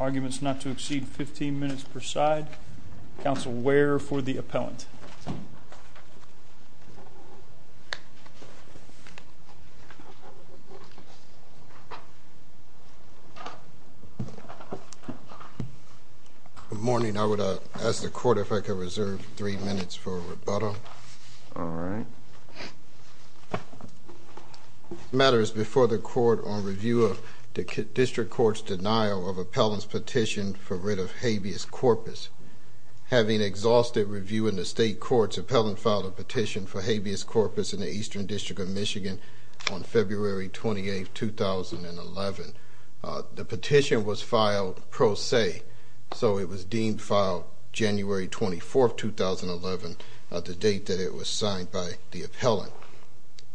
arguments not to exceed 15 minutes per side. Council, where for the appellant? Good morning. I would ask the court if I could reserve three minutes for rebuttal. The matter is before the court on review of the district court's denial of appellant's petition for writ of habeas corpus. Having exhausted review in the state courts, appellant filed a petition for habeas corpus in the Eastern District of Michigan on February 28th, 2011. The petition was filed pro se, so it was deemed filed January 24th, 2011, the date that it was signed by the appellant.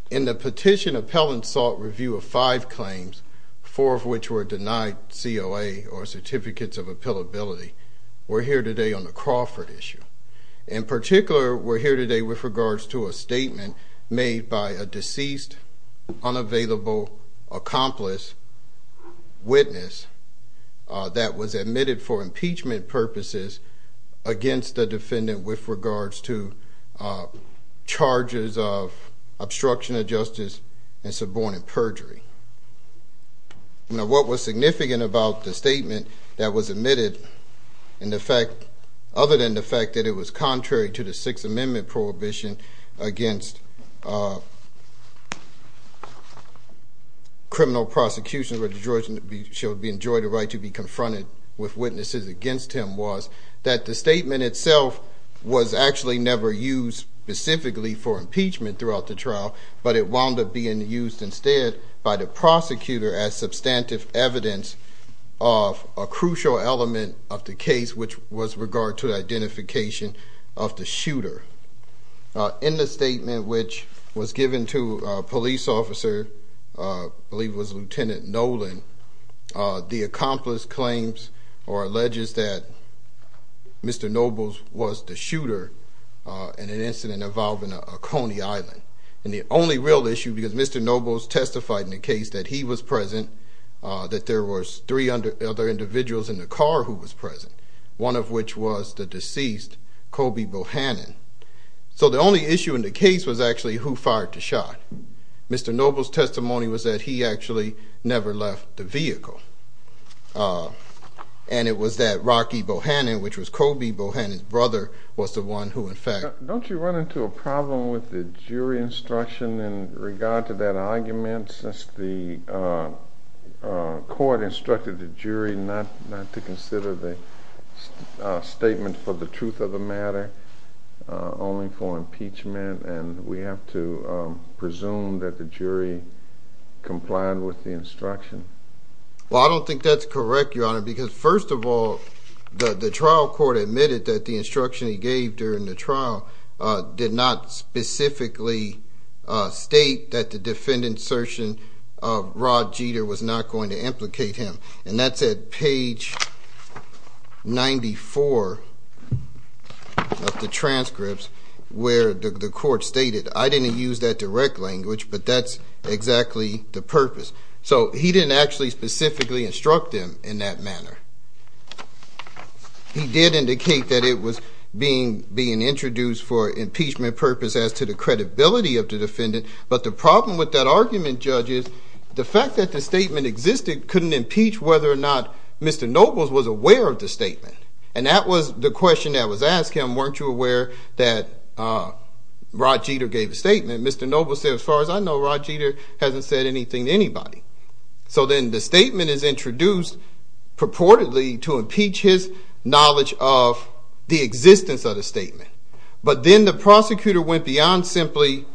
In the petition, appellant sought review of five claims, four of which were denied COA or certificates of appellability. We're here today on the Crawford issue. In particular, we're here today with regards to a statement made by a deceased, unavailable accomplice witness that was admitted for impeachment purposes against the defendant with regards to charges of obstruction of justice and subordinate perjury. Now, what was significant about the statement that was admitted, other than the fact that it was contrary to the Sixth Amendment prohibition against criminal prosecution where the judge shall enjoy the right to be confronted with witnesses against him, was that the statement itself was actually never used specifically for impeachment throughout the trial, but it wound up being used instead by the prosecutor as substantive evidence of a crucial element of the case, which was with regard to identification of the shooter. In the statement, which was given to a police officer, I believe it was Lieutenant Nolan, the accomplice claims or alleges that Mr. Nobles was the shooter in an incident involving a car in a Coney Island. And the only real issue, because Mr. Nobles testified in a case that he was present, that there was three other individuals in the car who was present, one of which was the deceased, Colby Bohannon. So the only issue in the case was actually who fired the shot. Mr. Nobles' testimony was that he actually never left the vehicle. And it was that Rocky Bohannon, which was Colby Bohannon's brother, was the one who fired the shot. Don't you run into a problem with the jury instruction in regard to that argument since the court instructed the jury not to consider the statement for the truth of the matter, only for impeachment, and we have to presume that the jury complied with the instruction? Well, I don't think that's correct, Your Honor, because first of all, the trial court admitted that the instruction he gave during the trial did not specifically state that the defendant's assertion of Rod Jeter was not going to implicate him. And that's at page 94 of the transcripts where the court stated, I didn't use that direct language, but that's exactly the purpose. So he didn't actually specifically instruct him in that manner. He did indicate that it was being introduced for impeachment purpose as to the credibility of the defendant, but the problem with that argument, Judge, is the fact that the statement existed couldn't impeach whether or not Mr. Nobles was aware of the statement. And that was the question that was asked him, weren't you aware that Rod Jeter gave a statement? Mr. Nobles said, as far as I know, Rod Jeter hasn't said anything to anybody. So then the statement is introduced purportedly to impeach his knowledge of the existence of the statement. But then the prosecutor went beyond simply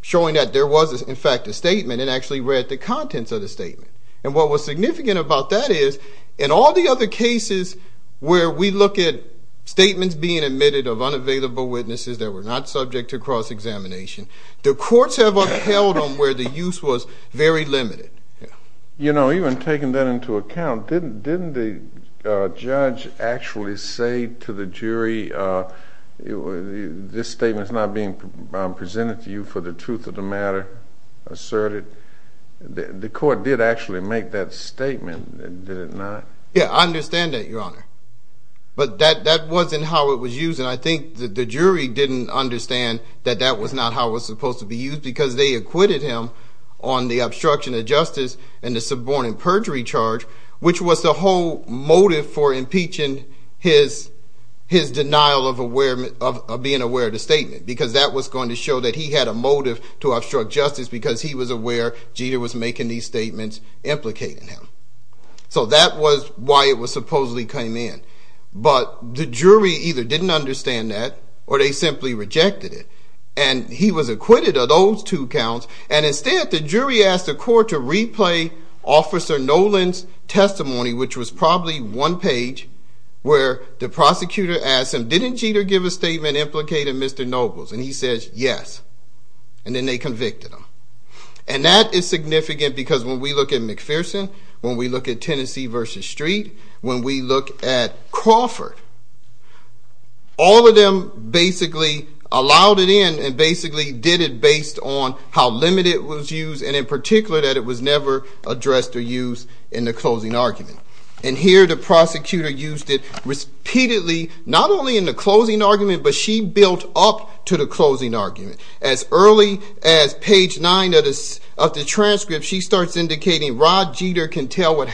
showing that there was, in fact, a statement and actually read the contents of the statement. And what was significant about that is, in all the other cases where we look at statements being admitted of unavailable witnesses that were not subject to cross examination, the courts have upheld them where the use was very limited. You know, even taking that into account, didn't the judge actually say to the jury, this statement is not being presented to you for the truth of the matter asserted? The court did actually make that statement, did it not? Yeah, I understand that, Your Honor. But that wasn't how it was used, and I think that the jury didn't understand that that was not how it was supposed to be used, because they acquitted him on the obstruction of justice and the subordinate perjury charge, which was the whole motive for impeaching his denial of being aware of the statement, because that was going to show that he had a motive to obstruct justice because he was aware Jeter was making these statements implicating him. So that was why it supposedly came in. But the jury either didn't understand that, or they simply rejected it. And he was acquitted of those two counts, and instead the jury asked the court to replay Officer Nolan's testimony, which was probably one page, where the prosecutor asked him, didn't Jeter give a statement implicating Mr. Nobles? And he says, yes. And then they convicted him. And that is significant because when we look at McPherson, when we look at Tennessee v. Street, when we look at Crawford, all of them basically allowed it in and basically did it based on how limited it was used, and in particular that it was never addressed or used in the closing argument. And here the prosecutor used it repeatedly, not only in the closing argument, but she built up to the closing argument. As early as page 9 of the transcript, she starts indicating Rod Jeter can tell what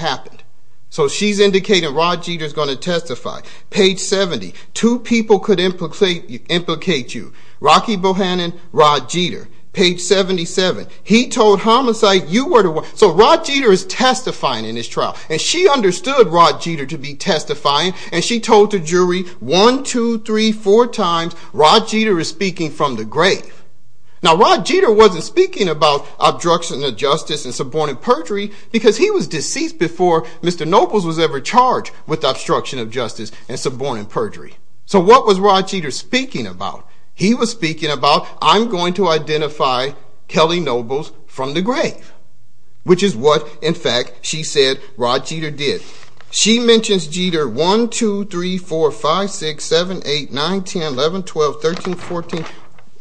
page 70. Two people could implicate you. Rocky Bohannon, Rod Jeter, page 77. He told Homicide, you were the one. So Rod Jeter is testifying in this trial, and she understood Rod Jeter to be testifying, and she told the jury one, two, three, four times, Rod Jeter is speaking from the grave. Now, Rod Jeter wasn't speaking about obstruction of justice and subordinate perjury because he was charged with obstruction of justice and subordinate perjury. So what was Rod Jeter speaking about? He was speaking about, I'm going to identify Kelly Nobles from the grave, which is what, in fact, she said Rod Jeter did. She mentions Jeter one, two, three, four, five, six, seven, eight, nine, 10, 11, 12, 13, 14,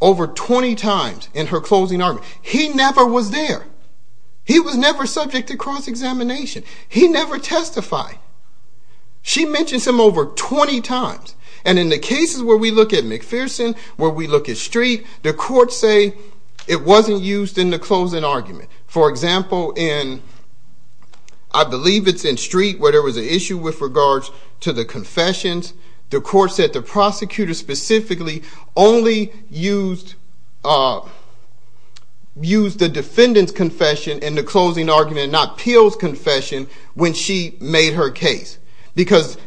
over 20 times in her closing argument. He never was there. He was never subject to cross-examination. He never testified. She mentions him over 20 times, and in the cases where we look at McPherson, where we look at Street, the courts say it wasn't used in the closing argument. For example, in, I believe it's in Street, where there was an issue with regards to the confessions, the court said the prosecutor specifically only used the defendant's confession in the closing argument, not Peel's confession, when she made her case. Because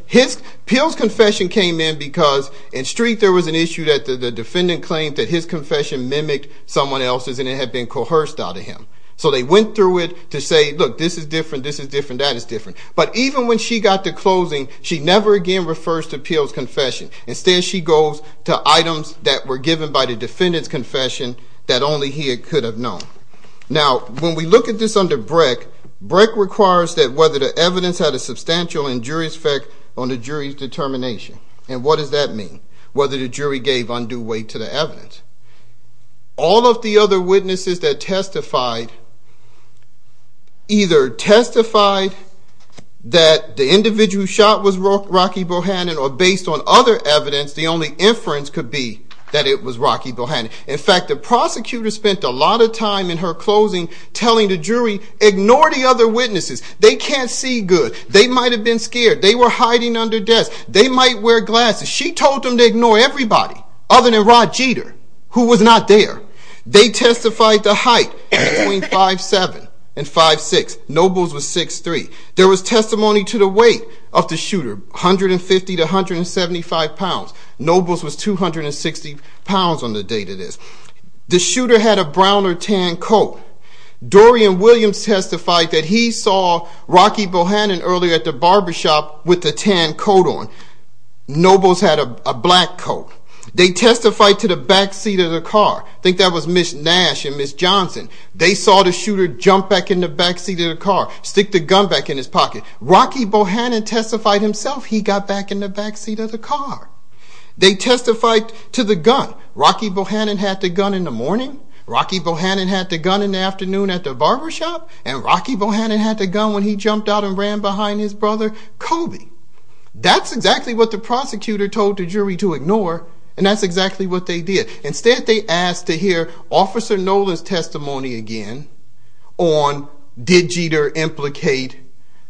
Peel's confession came in because in Street there was an issue that the defendant claimed that his confession mimicked someone else's, and it had been coerced out of him. So they went through it to say, look, this is different, this is different, that is different. But even when she got to closing, she never again refers to Peel's confession. Instead, she goes to items that were given by the defendant's confession that only he could have known. Now, when we look at this under Brick, Brick requires that whether the evidence had a substantial injurious effect on the jury's determination. And what does that mean? Whether the jury gave undue weight to the evidence. All of the other witnesses that testified either testified that the individual shot was Rocky Bohannon, or based on other evidence, the only inference could be that it was Rocky Bohannon. In fact, the prosecutor spent a lot of time in her closing telling the jury, ignore the other witnesses. They can't see good. They might have been scared. They were hiding under desks. They might wear glasses. She told them to ignore everybody, other than Rod Jeter, who was not there. They testified to height between 5'7 and 5'6. Nobles was 6'3. There was testimony to the weight of the shooter, 150 to 175 pounds. Nobles was 260 pounds on the date of this. The shooter had a brown or tan coat. Dorian Williams testified that he saw Rocky Bohannon earlier at the barbershop with the tan coat on. Nobles had a black coat. They testified to the back seat of the car. I think that was Nash and Ms. Johnson. They saw the shooter jump back in the back seat of the car, stick the gun back in his pocket. Rocky Bohannon testified himself he got back in the back seat of the car. They testified to the gun. Rocky Bohannon had the gun in the morning. Rocky Bohannon had the gun in the afternoon at the barbershop. And Rocky Bohannon had the gun when he jumped out and ran behind his brother, Kobe. That's exactly what the prosecutor told the jury to ignore. And that's exactly what they did. Instead, they asked to hear Officer Nolan's testimony again on did Jeter implicate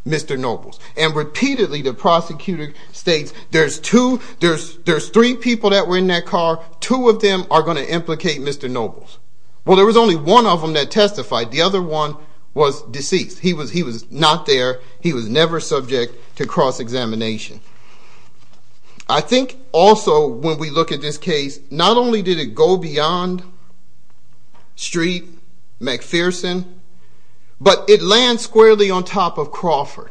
Mr. Nobles. And repeatedly, the prosecutor states, there's three people that were in that car. Two of them are going to implicate Mr. Nobles. Well, there was only one of them that testified. The other one was deceased. He was not there. He was never subject to cross-examination. I think also when we look at this case, not only did it go beyond Street, McPherson, but it lands squarely on top of Crawford.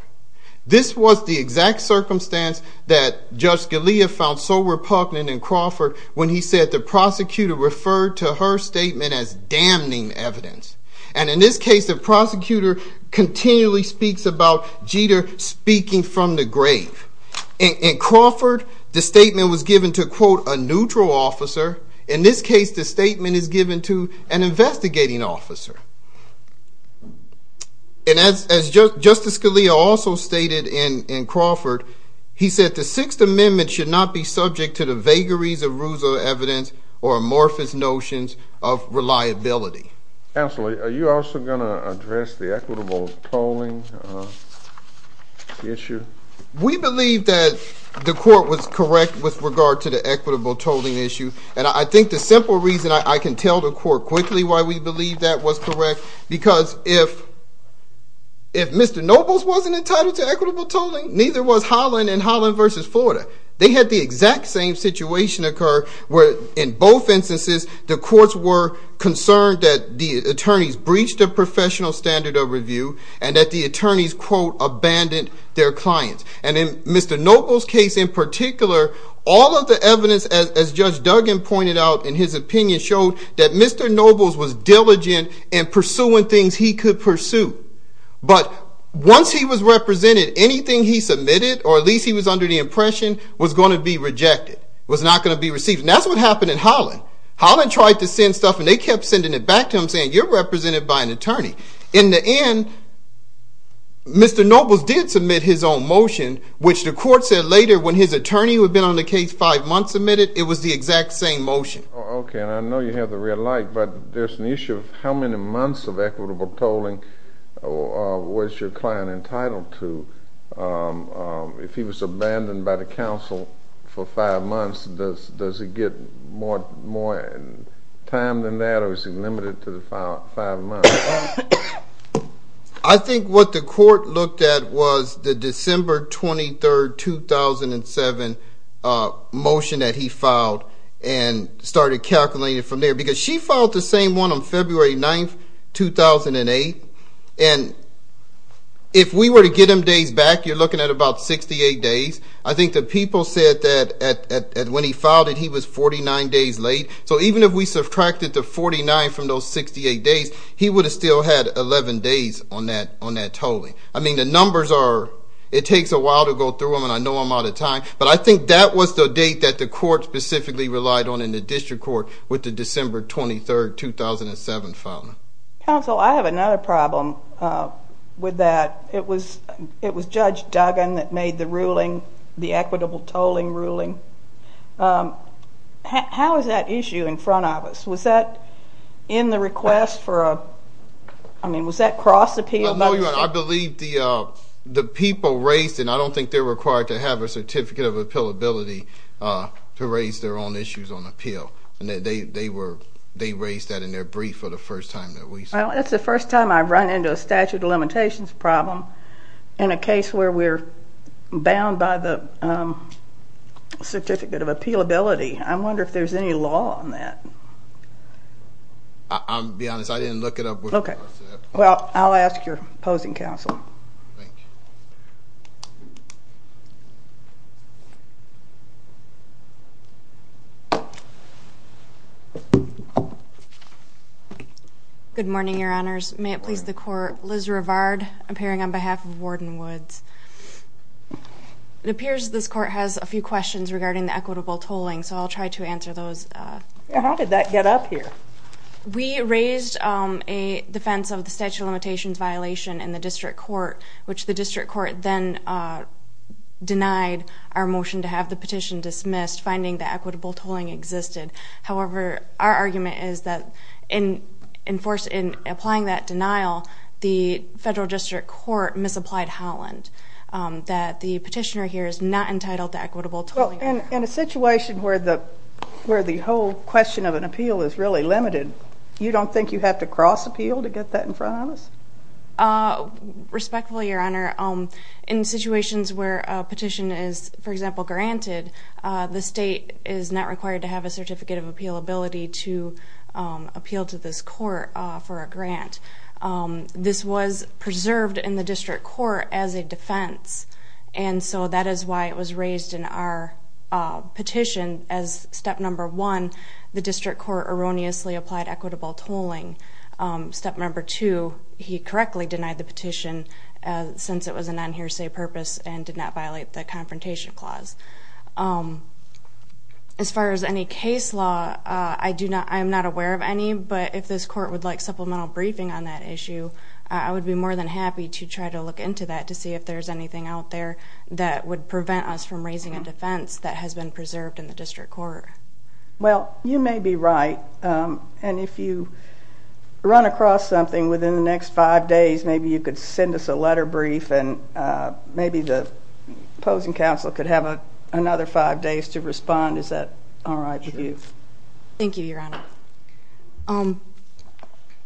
This was the exact circumstance that Judge Scalia found so repugnant in Crawford when he said the prosecutor referred to her statement as damning evidence. And in this case, the prosecutor continually speaks about Jeter speaking from the grave. In Crawford, the statement was given to, quote, a neutral officer. In this case, the statement is given to an investigating officer. And as Justice Scalia also stated in Crawford, he said the Sixth Amendment should not be subject to the vagaries of ruse of evidence or amorphous notions of reliability. Counselor, are you also going to address the equitable tolling issue? We believe that the court was correct with regard to the equitable tolling issue. And I think the simple reason I can tell the court quickly why we believe that was correct, because if Mr. Nobles wasn't entitled to equitable tolling, neither was Holland and Holland v. Florida. They had the exact same situation occur where in both instances, the courts were concerned that the attorneys breached the professional standard of review and that the attorneys, quote, abandoned their clients. And in Mr. Nobles' case in particular, all of the evidence, as Judge Duggan pointed out in his opinion, showed that Mr. Nobles was diligent in pursuing things he could pursue. But once he was represented, anything he submitted, or at least he was under the impression, was going to be rejected, was not going to be received. And that's what happened in Holland. Holland tried to send stuff and they kept sending it back to him saying, you're represented by an attorney. In the end, Mr. Nobles did submit his own motion, which the court said later when his attorney who had been on the case five months submitted, it was the exact same motion. Okay. And I know you have the red light, but there's an issue of how many months of equitable tolling was your client entitled to? If he was abandoned by the counsel for five months, does he get more time than that, or is he limited to the five months? I think what the court looked at was the December 23, 2007 motion that he filed and started calculating from there. Because she filed the same one on February 9, 2008. And if we were to get him days back, you're looking at about 68 days. I think the people said that when he filed it, he was 49 days late. So even if we subtracted the 49 from those 68 days, he would have still had 11 days on that tolling. I mean, the numbers are, it takes a while to go through them and I know I'm out of time. But I think that was the date that the court specifically relied on in the district court with the December 23, 2007 filing. Counsel, I have another problem with that. It was Judge Duggan that made the ruling, the equitable tolling ruling. How is that issue in front of us? Was that in the request for a, I mean, was that cross appeal? No, Your Honor, I believe the people raised, and I don't think they're required to have a Certificate of Appealability to raise their own issues on appeal. And they raised that in their brief for the first time that we saw. That's the first time I've run into a statute of limitations problem in a case where we're bound by the Certificate of Appealability. I wonder if there's any law on that. I'll be honest, I didn't look it up. Okay. Well, I'll ask your opposing counsel. Good morning, Your Honors. May it please the court, Liz Rivard, appearing on behalf of Warden Woods. It appears this court has a few questions regarding the equitable tolling, so I'll try to answer those. How did that get up here? We raised a defense of the statute of limitations violation in the district court, which the district court then denied our motion to have the petition dismissed, finding that equitable tolling existed. However, our argument is that in applying that denial, the federal district court misapplied Holland, that the petitioner here is not entitled to equitable tolling. Well, in a situation where the whole question of an appeal is really a question of an appeal, is that a promise? Respectfully, Your Honor. In situations where a petition is, for example, granted, the state is not required to have a Certificate of Appealability to appeal to this court for a grant. This was preserved in the district court as a defense, and so that is why it was raised in our petition as step number one, the district court erroneously applied equitable tolling. Step number two, he correctly denied the petition since it was an unhearsay purpose and did not violate the Confrontation Clause. As far as any case law, I'm not aware of any, but if this court would like supplemental briefing on that issue, I would be more than happy to try to look into that to see if there's anything out there that would prevent us from raising a defense that has been preserved in the district court. Well, you may be right, and if you run across something within the next five days, maybe you could send us a letter brief, and maybe the opposing counsel could have another five days to respond. Is that all right with you? Thank you, Your Honor.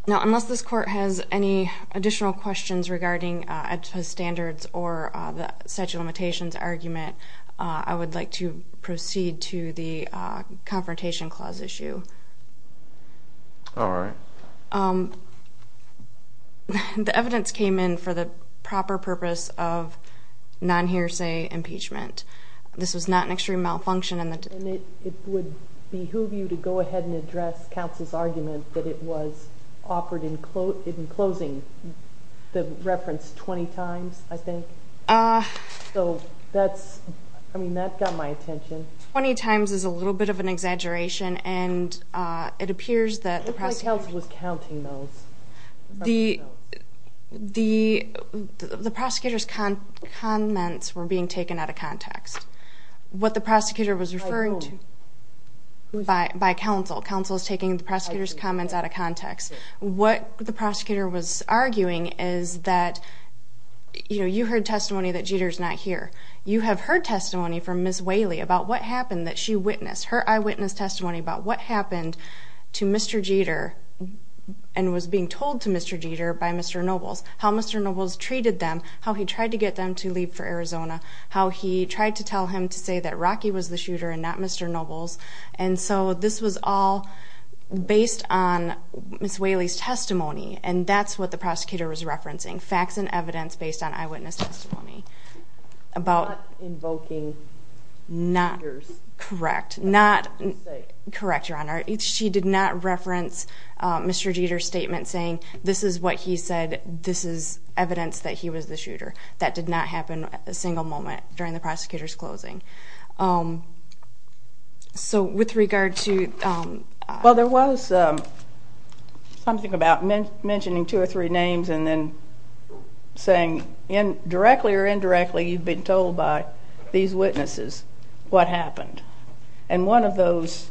Now, unless this court has any additional questions regarding AEDSA standards or the statute of limitations argument, I would like to proceed to the Confrontation Clause issue. All right. The evidence came in for the proper purpose of non-hearsay impeachment. This was not an extreme malfunction. And it would behoove you to go ahead and address counsel's argument that it was offered in closing the reference 20 times, I think. So that's... I mean, that got my attention. 20 times is a little bit of an exaggeration, and it appears that the prosecutor... It looked like counsel was counting those. The prosecutor's comments were being taken out of context. What the prosecutor was referring to... By whom? By counsel. Counsel is taking the prosecutor's comments out of context. What the prosecutor was arguing is that... You heard testimony that Jeter's not here. You have heard testimony from Ms. Whaley about what happened that she witnessed, her eyewitness testimony about what happened to Mr. Jeter and was being told to Mr. Jeter by Mr. Nobles, how Mr. Nobles treated them, how he tried to get them to leave for Arizona, how he tried to tell him to say that Rocky was the shooter and not Mr. Nobles. And so this was all based on Ms. Whaley's testimony, and that's what the prosecutor was referencing, facts and evidence based on eyewitness testimony about... Not invoking Jeter's... Not... Correct. Not... Correct, Your Honor. She did not reference Mr. Jeter's statement saying, this is what he said, this is evidence that he was the shooter. That did not happen a single moment during the prosecutor's closing. So with regard to... Well, there was something about mentioning two or three names and then saying directly or indirectly, you've been told by these witnesses what happened. And one of those,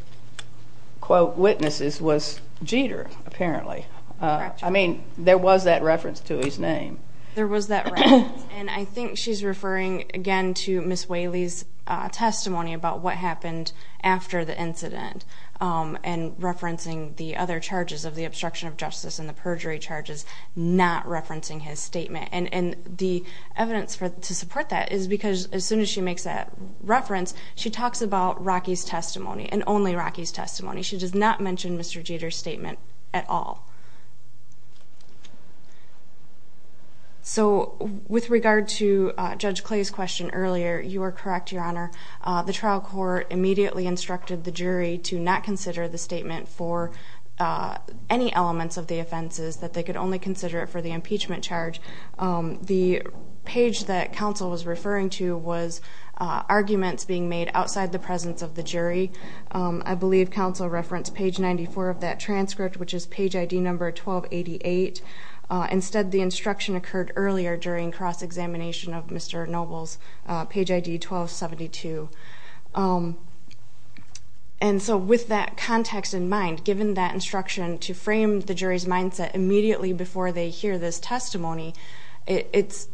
quote, witnesses was Jeter, apparently. I mean, there was that reference to his name. There was that reference. And I think she's referring, again, to Ms. Whaley's testimony about what happened after the incident, and referencing the other charges of the obstruction of justice and the perjury charges, not referencing his statement. And the evidence to support that is because as soon as she makes that reference, she talks about Rocky's testimony, and only Rocky's testimony. She does not mention Mr. Jeter's statement at all. So with regard to Judge Clay's question earlier, you are correct, Your Honor. The trial court immediately instructed the jury to not consider the statement for any elements of the offenses, that they could only consider it for the impeachment charge. The page that counsel was referring to was arguments being made outside the presence of the jury. I believe counsel referenced page 94 of that transcript, which is page ID number 1288. Instead, the instruction occurred earlier during cross-examination of Mr. Noble's page ID 1272. And so with that context in mind, given that instruction to frame the jury's mindset immediately before they hear this testimony, it's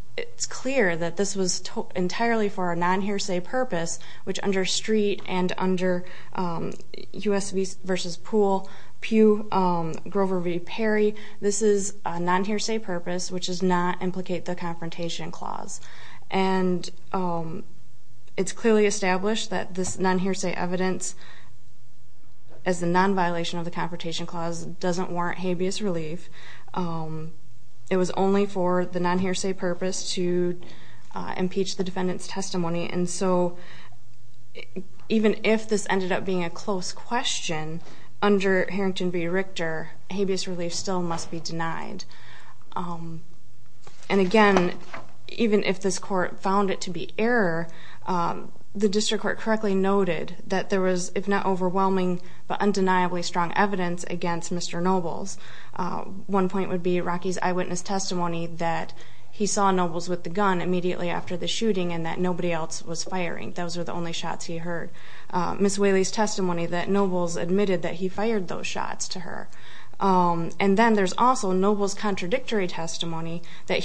clear that this was entirely for a non-hearsay purpose, which under Street and under US v. Poole, Pugh, Grover v. Perry, this is a non-hearsay purpose, which does not implicate the Confrontation Clause. And it's clearly established that this non-hearsay evidence, as a non-violation of the Confrontation Clause, doesn't warrant habeas relief. It was only for the non-hearsay purpose to impeach the defendant's testimony. And so even if this ended up being a close question under Harrington v. Richter, habeas relief still must be denied. And again, even if this court found it to be error, the district court correctly noted that there was, if not overwhelming, but undeniably strong evidence against Mr. Noble's. One point would be Rocky's eyewitness testimony that he saw Noble's with the gun immediately after the shooting and that nobody else was firing. Those were the only shots he heard. Ms. Whaley's testimony that Noble's admitted that he fired those shots to her. And then there's also Noble's contradictory testimony that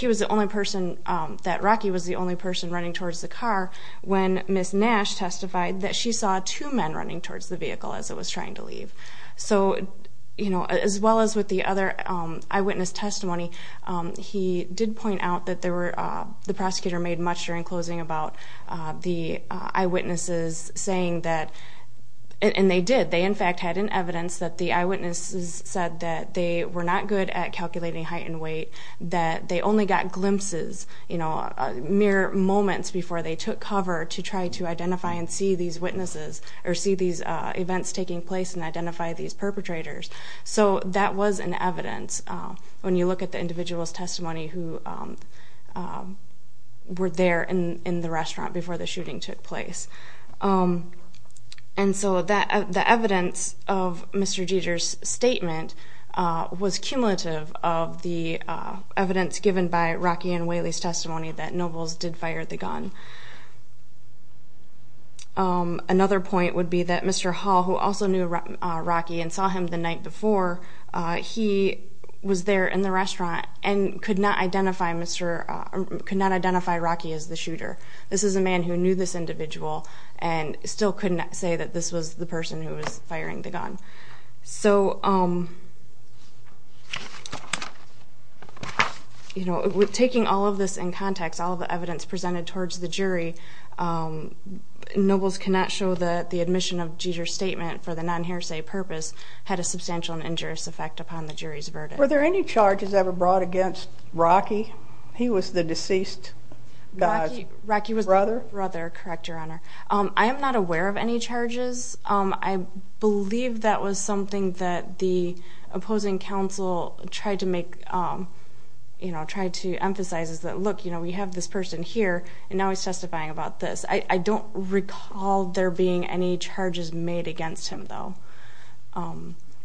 Rocky was the only person running towards the car when Ms. Nash testified that she saw two men running towards the vehicle as it was trying to leave. So as well as with the other eyewitness testimony, he did point out that the prosecutor made much during closing about the eyewitnesses saying that, and they did, they in fact had an evidence that the eyewitnesses said that they were not good at calculating height and weight, that they only got glimpses, you know, mere moments before they took cover to try to identify and see these witnesses or see these events taking place and identify these perpetrators. So that was an evidence. When you look at the individual's testimony who were there in the restaurant before the shooting took place. And so that the evidence of Mr. Jeter's statement was cumulative of the evidence given by Rocky and Whaley's testimony that Noble's did fire the gun. Another point would be that Mr. Hall, who also knew Rocky and saw him the night before, he was there in the restaurant and could not identify Rocky as the shooter. This is a man who knew this individual and still couldn't say that this was the person who was firing the gun. So, you know, with taking all of this in context, all the evidence presented towards the jury, Noble's cannot show that the admission of Jeter's statement for the unhearsay purpose had a substantial and injurious effect upon the jury's verdict. Were there any charges ever brought against Rocky? He was the deceased guy's brother. Rocky was the brother. Correct, Your Honor. I am not aware of any charges. I believe that was something that the opposing counsel tried to make, you know, tried to emphasize is that, look, you know, we have this person here and now he's testifying about this. I don't recall there being any charges made against him, though.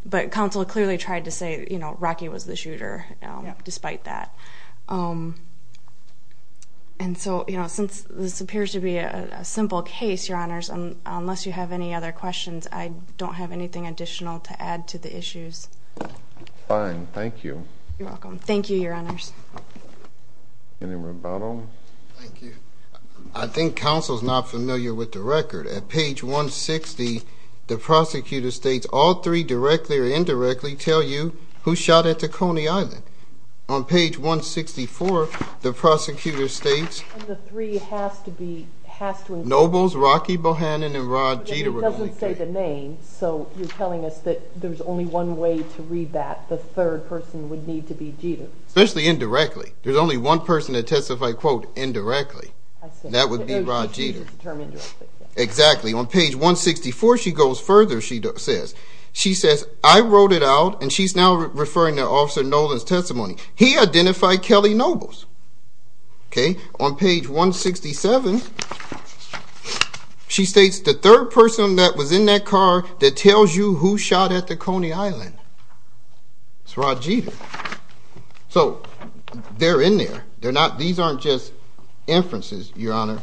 But counsel clearly tried to say, you know, Rocky was the shooter despite that. And so, you know, since this appears to be a simple case, Your Honors, unless you have any other questions, I don't have anything additional to add to the issues. Fine. Thank you. You're welcome. Thank you, Your Honors. Any more about him? Thank you. I think counsel's not familiar with the record. At page 160, the prosecutor states all three directly or indirectly tell you who shot at the Coney Island. On page 164, the prosecutor states Noble's, Rocky Bohannon, and Rod Jeter. It doesn't say the name, so you're telling us that there's only one way to read that. The third person would need to be Jeter. Especially indirectly. There's only one person to testify, quote, indirectly. That would be Rod Jeter. Exactly. On page 164, she goes further. She says, I wrote it out, and she's now referring to Officer Nolan's testimony. He identified Kelly Noble. Okay. On page 167, she states the third person that was in that car that tells you who shot at the Coney Island. It's Rod Jeter. They're in there. These aren't just inferences, Your Honor.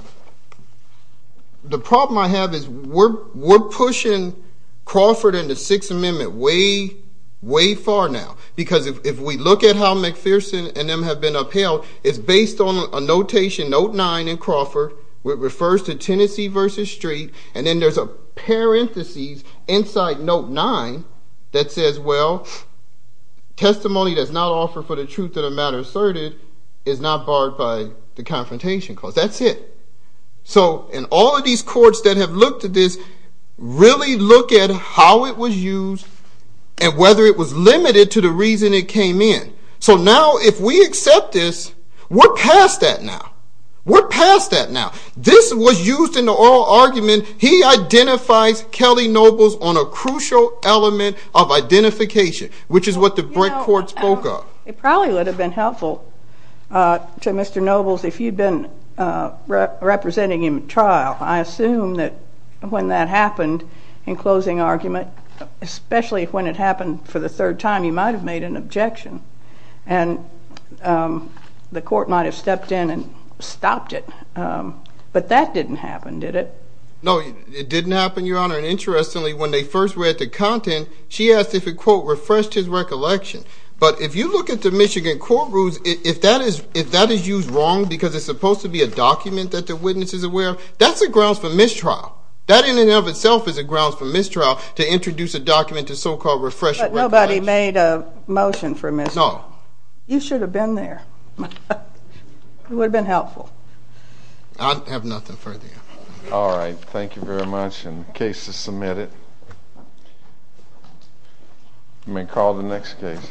The problem I have is we're pushing Crawford and the Sixth Amendment way, way far now. If we look at how McPherson and them have been upheld, it's based on a notation, note nine in Crawford, which refers to Tennessee versus street. Then there's a parenthesis inside note nine that says, well, testimony does not offer for the truth of the matter asserted is not barred by the confrontation clause. That's it. In all of these courts that have looked at this, really look at how it was used and whether it was limited to the reason it came in. Now, if we accept this, we're past that now. We're past that now. This was used in the oral argument. He identifies Kelly Noble on a crucial element of identification, which is what the Brett court spoke of. It probably would have been helpful to Mr. Nobles if you'd been representing him at trial. I assume that when that happened in closing argument, especially when it happened for the third time, he might have made an objection and the court might have stepped in and stopped it. But that didn't happen, did it? No, it didn't happen, Your Honor. And interestingly, when they first read the content, she asked if it, quote, refreshed his recollection. But if you look at the Michigan court rules, if that is used wrong because it's supposed to be a document that the witness is aware of, that's a grounds for mistrial. That in and of itself is a grounds for mistrial, to introduce a document to so-called refresh recollection. But nobody made a motion for mistrial. No. You should have been there. It would have been helpful. I have nothing further. All right. Thank you very much. And the case is submitted. You may call the next case.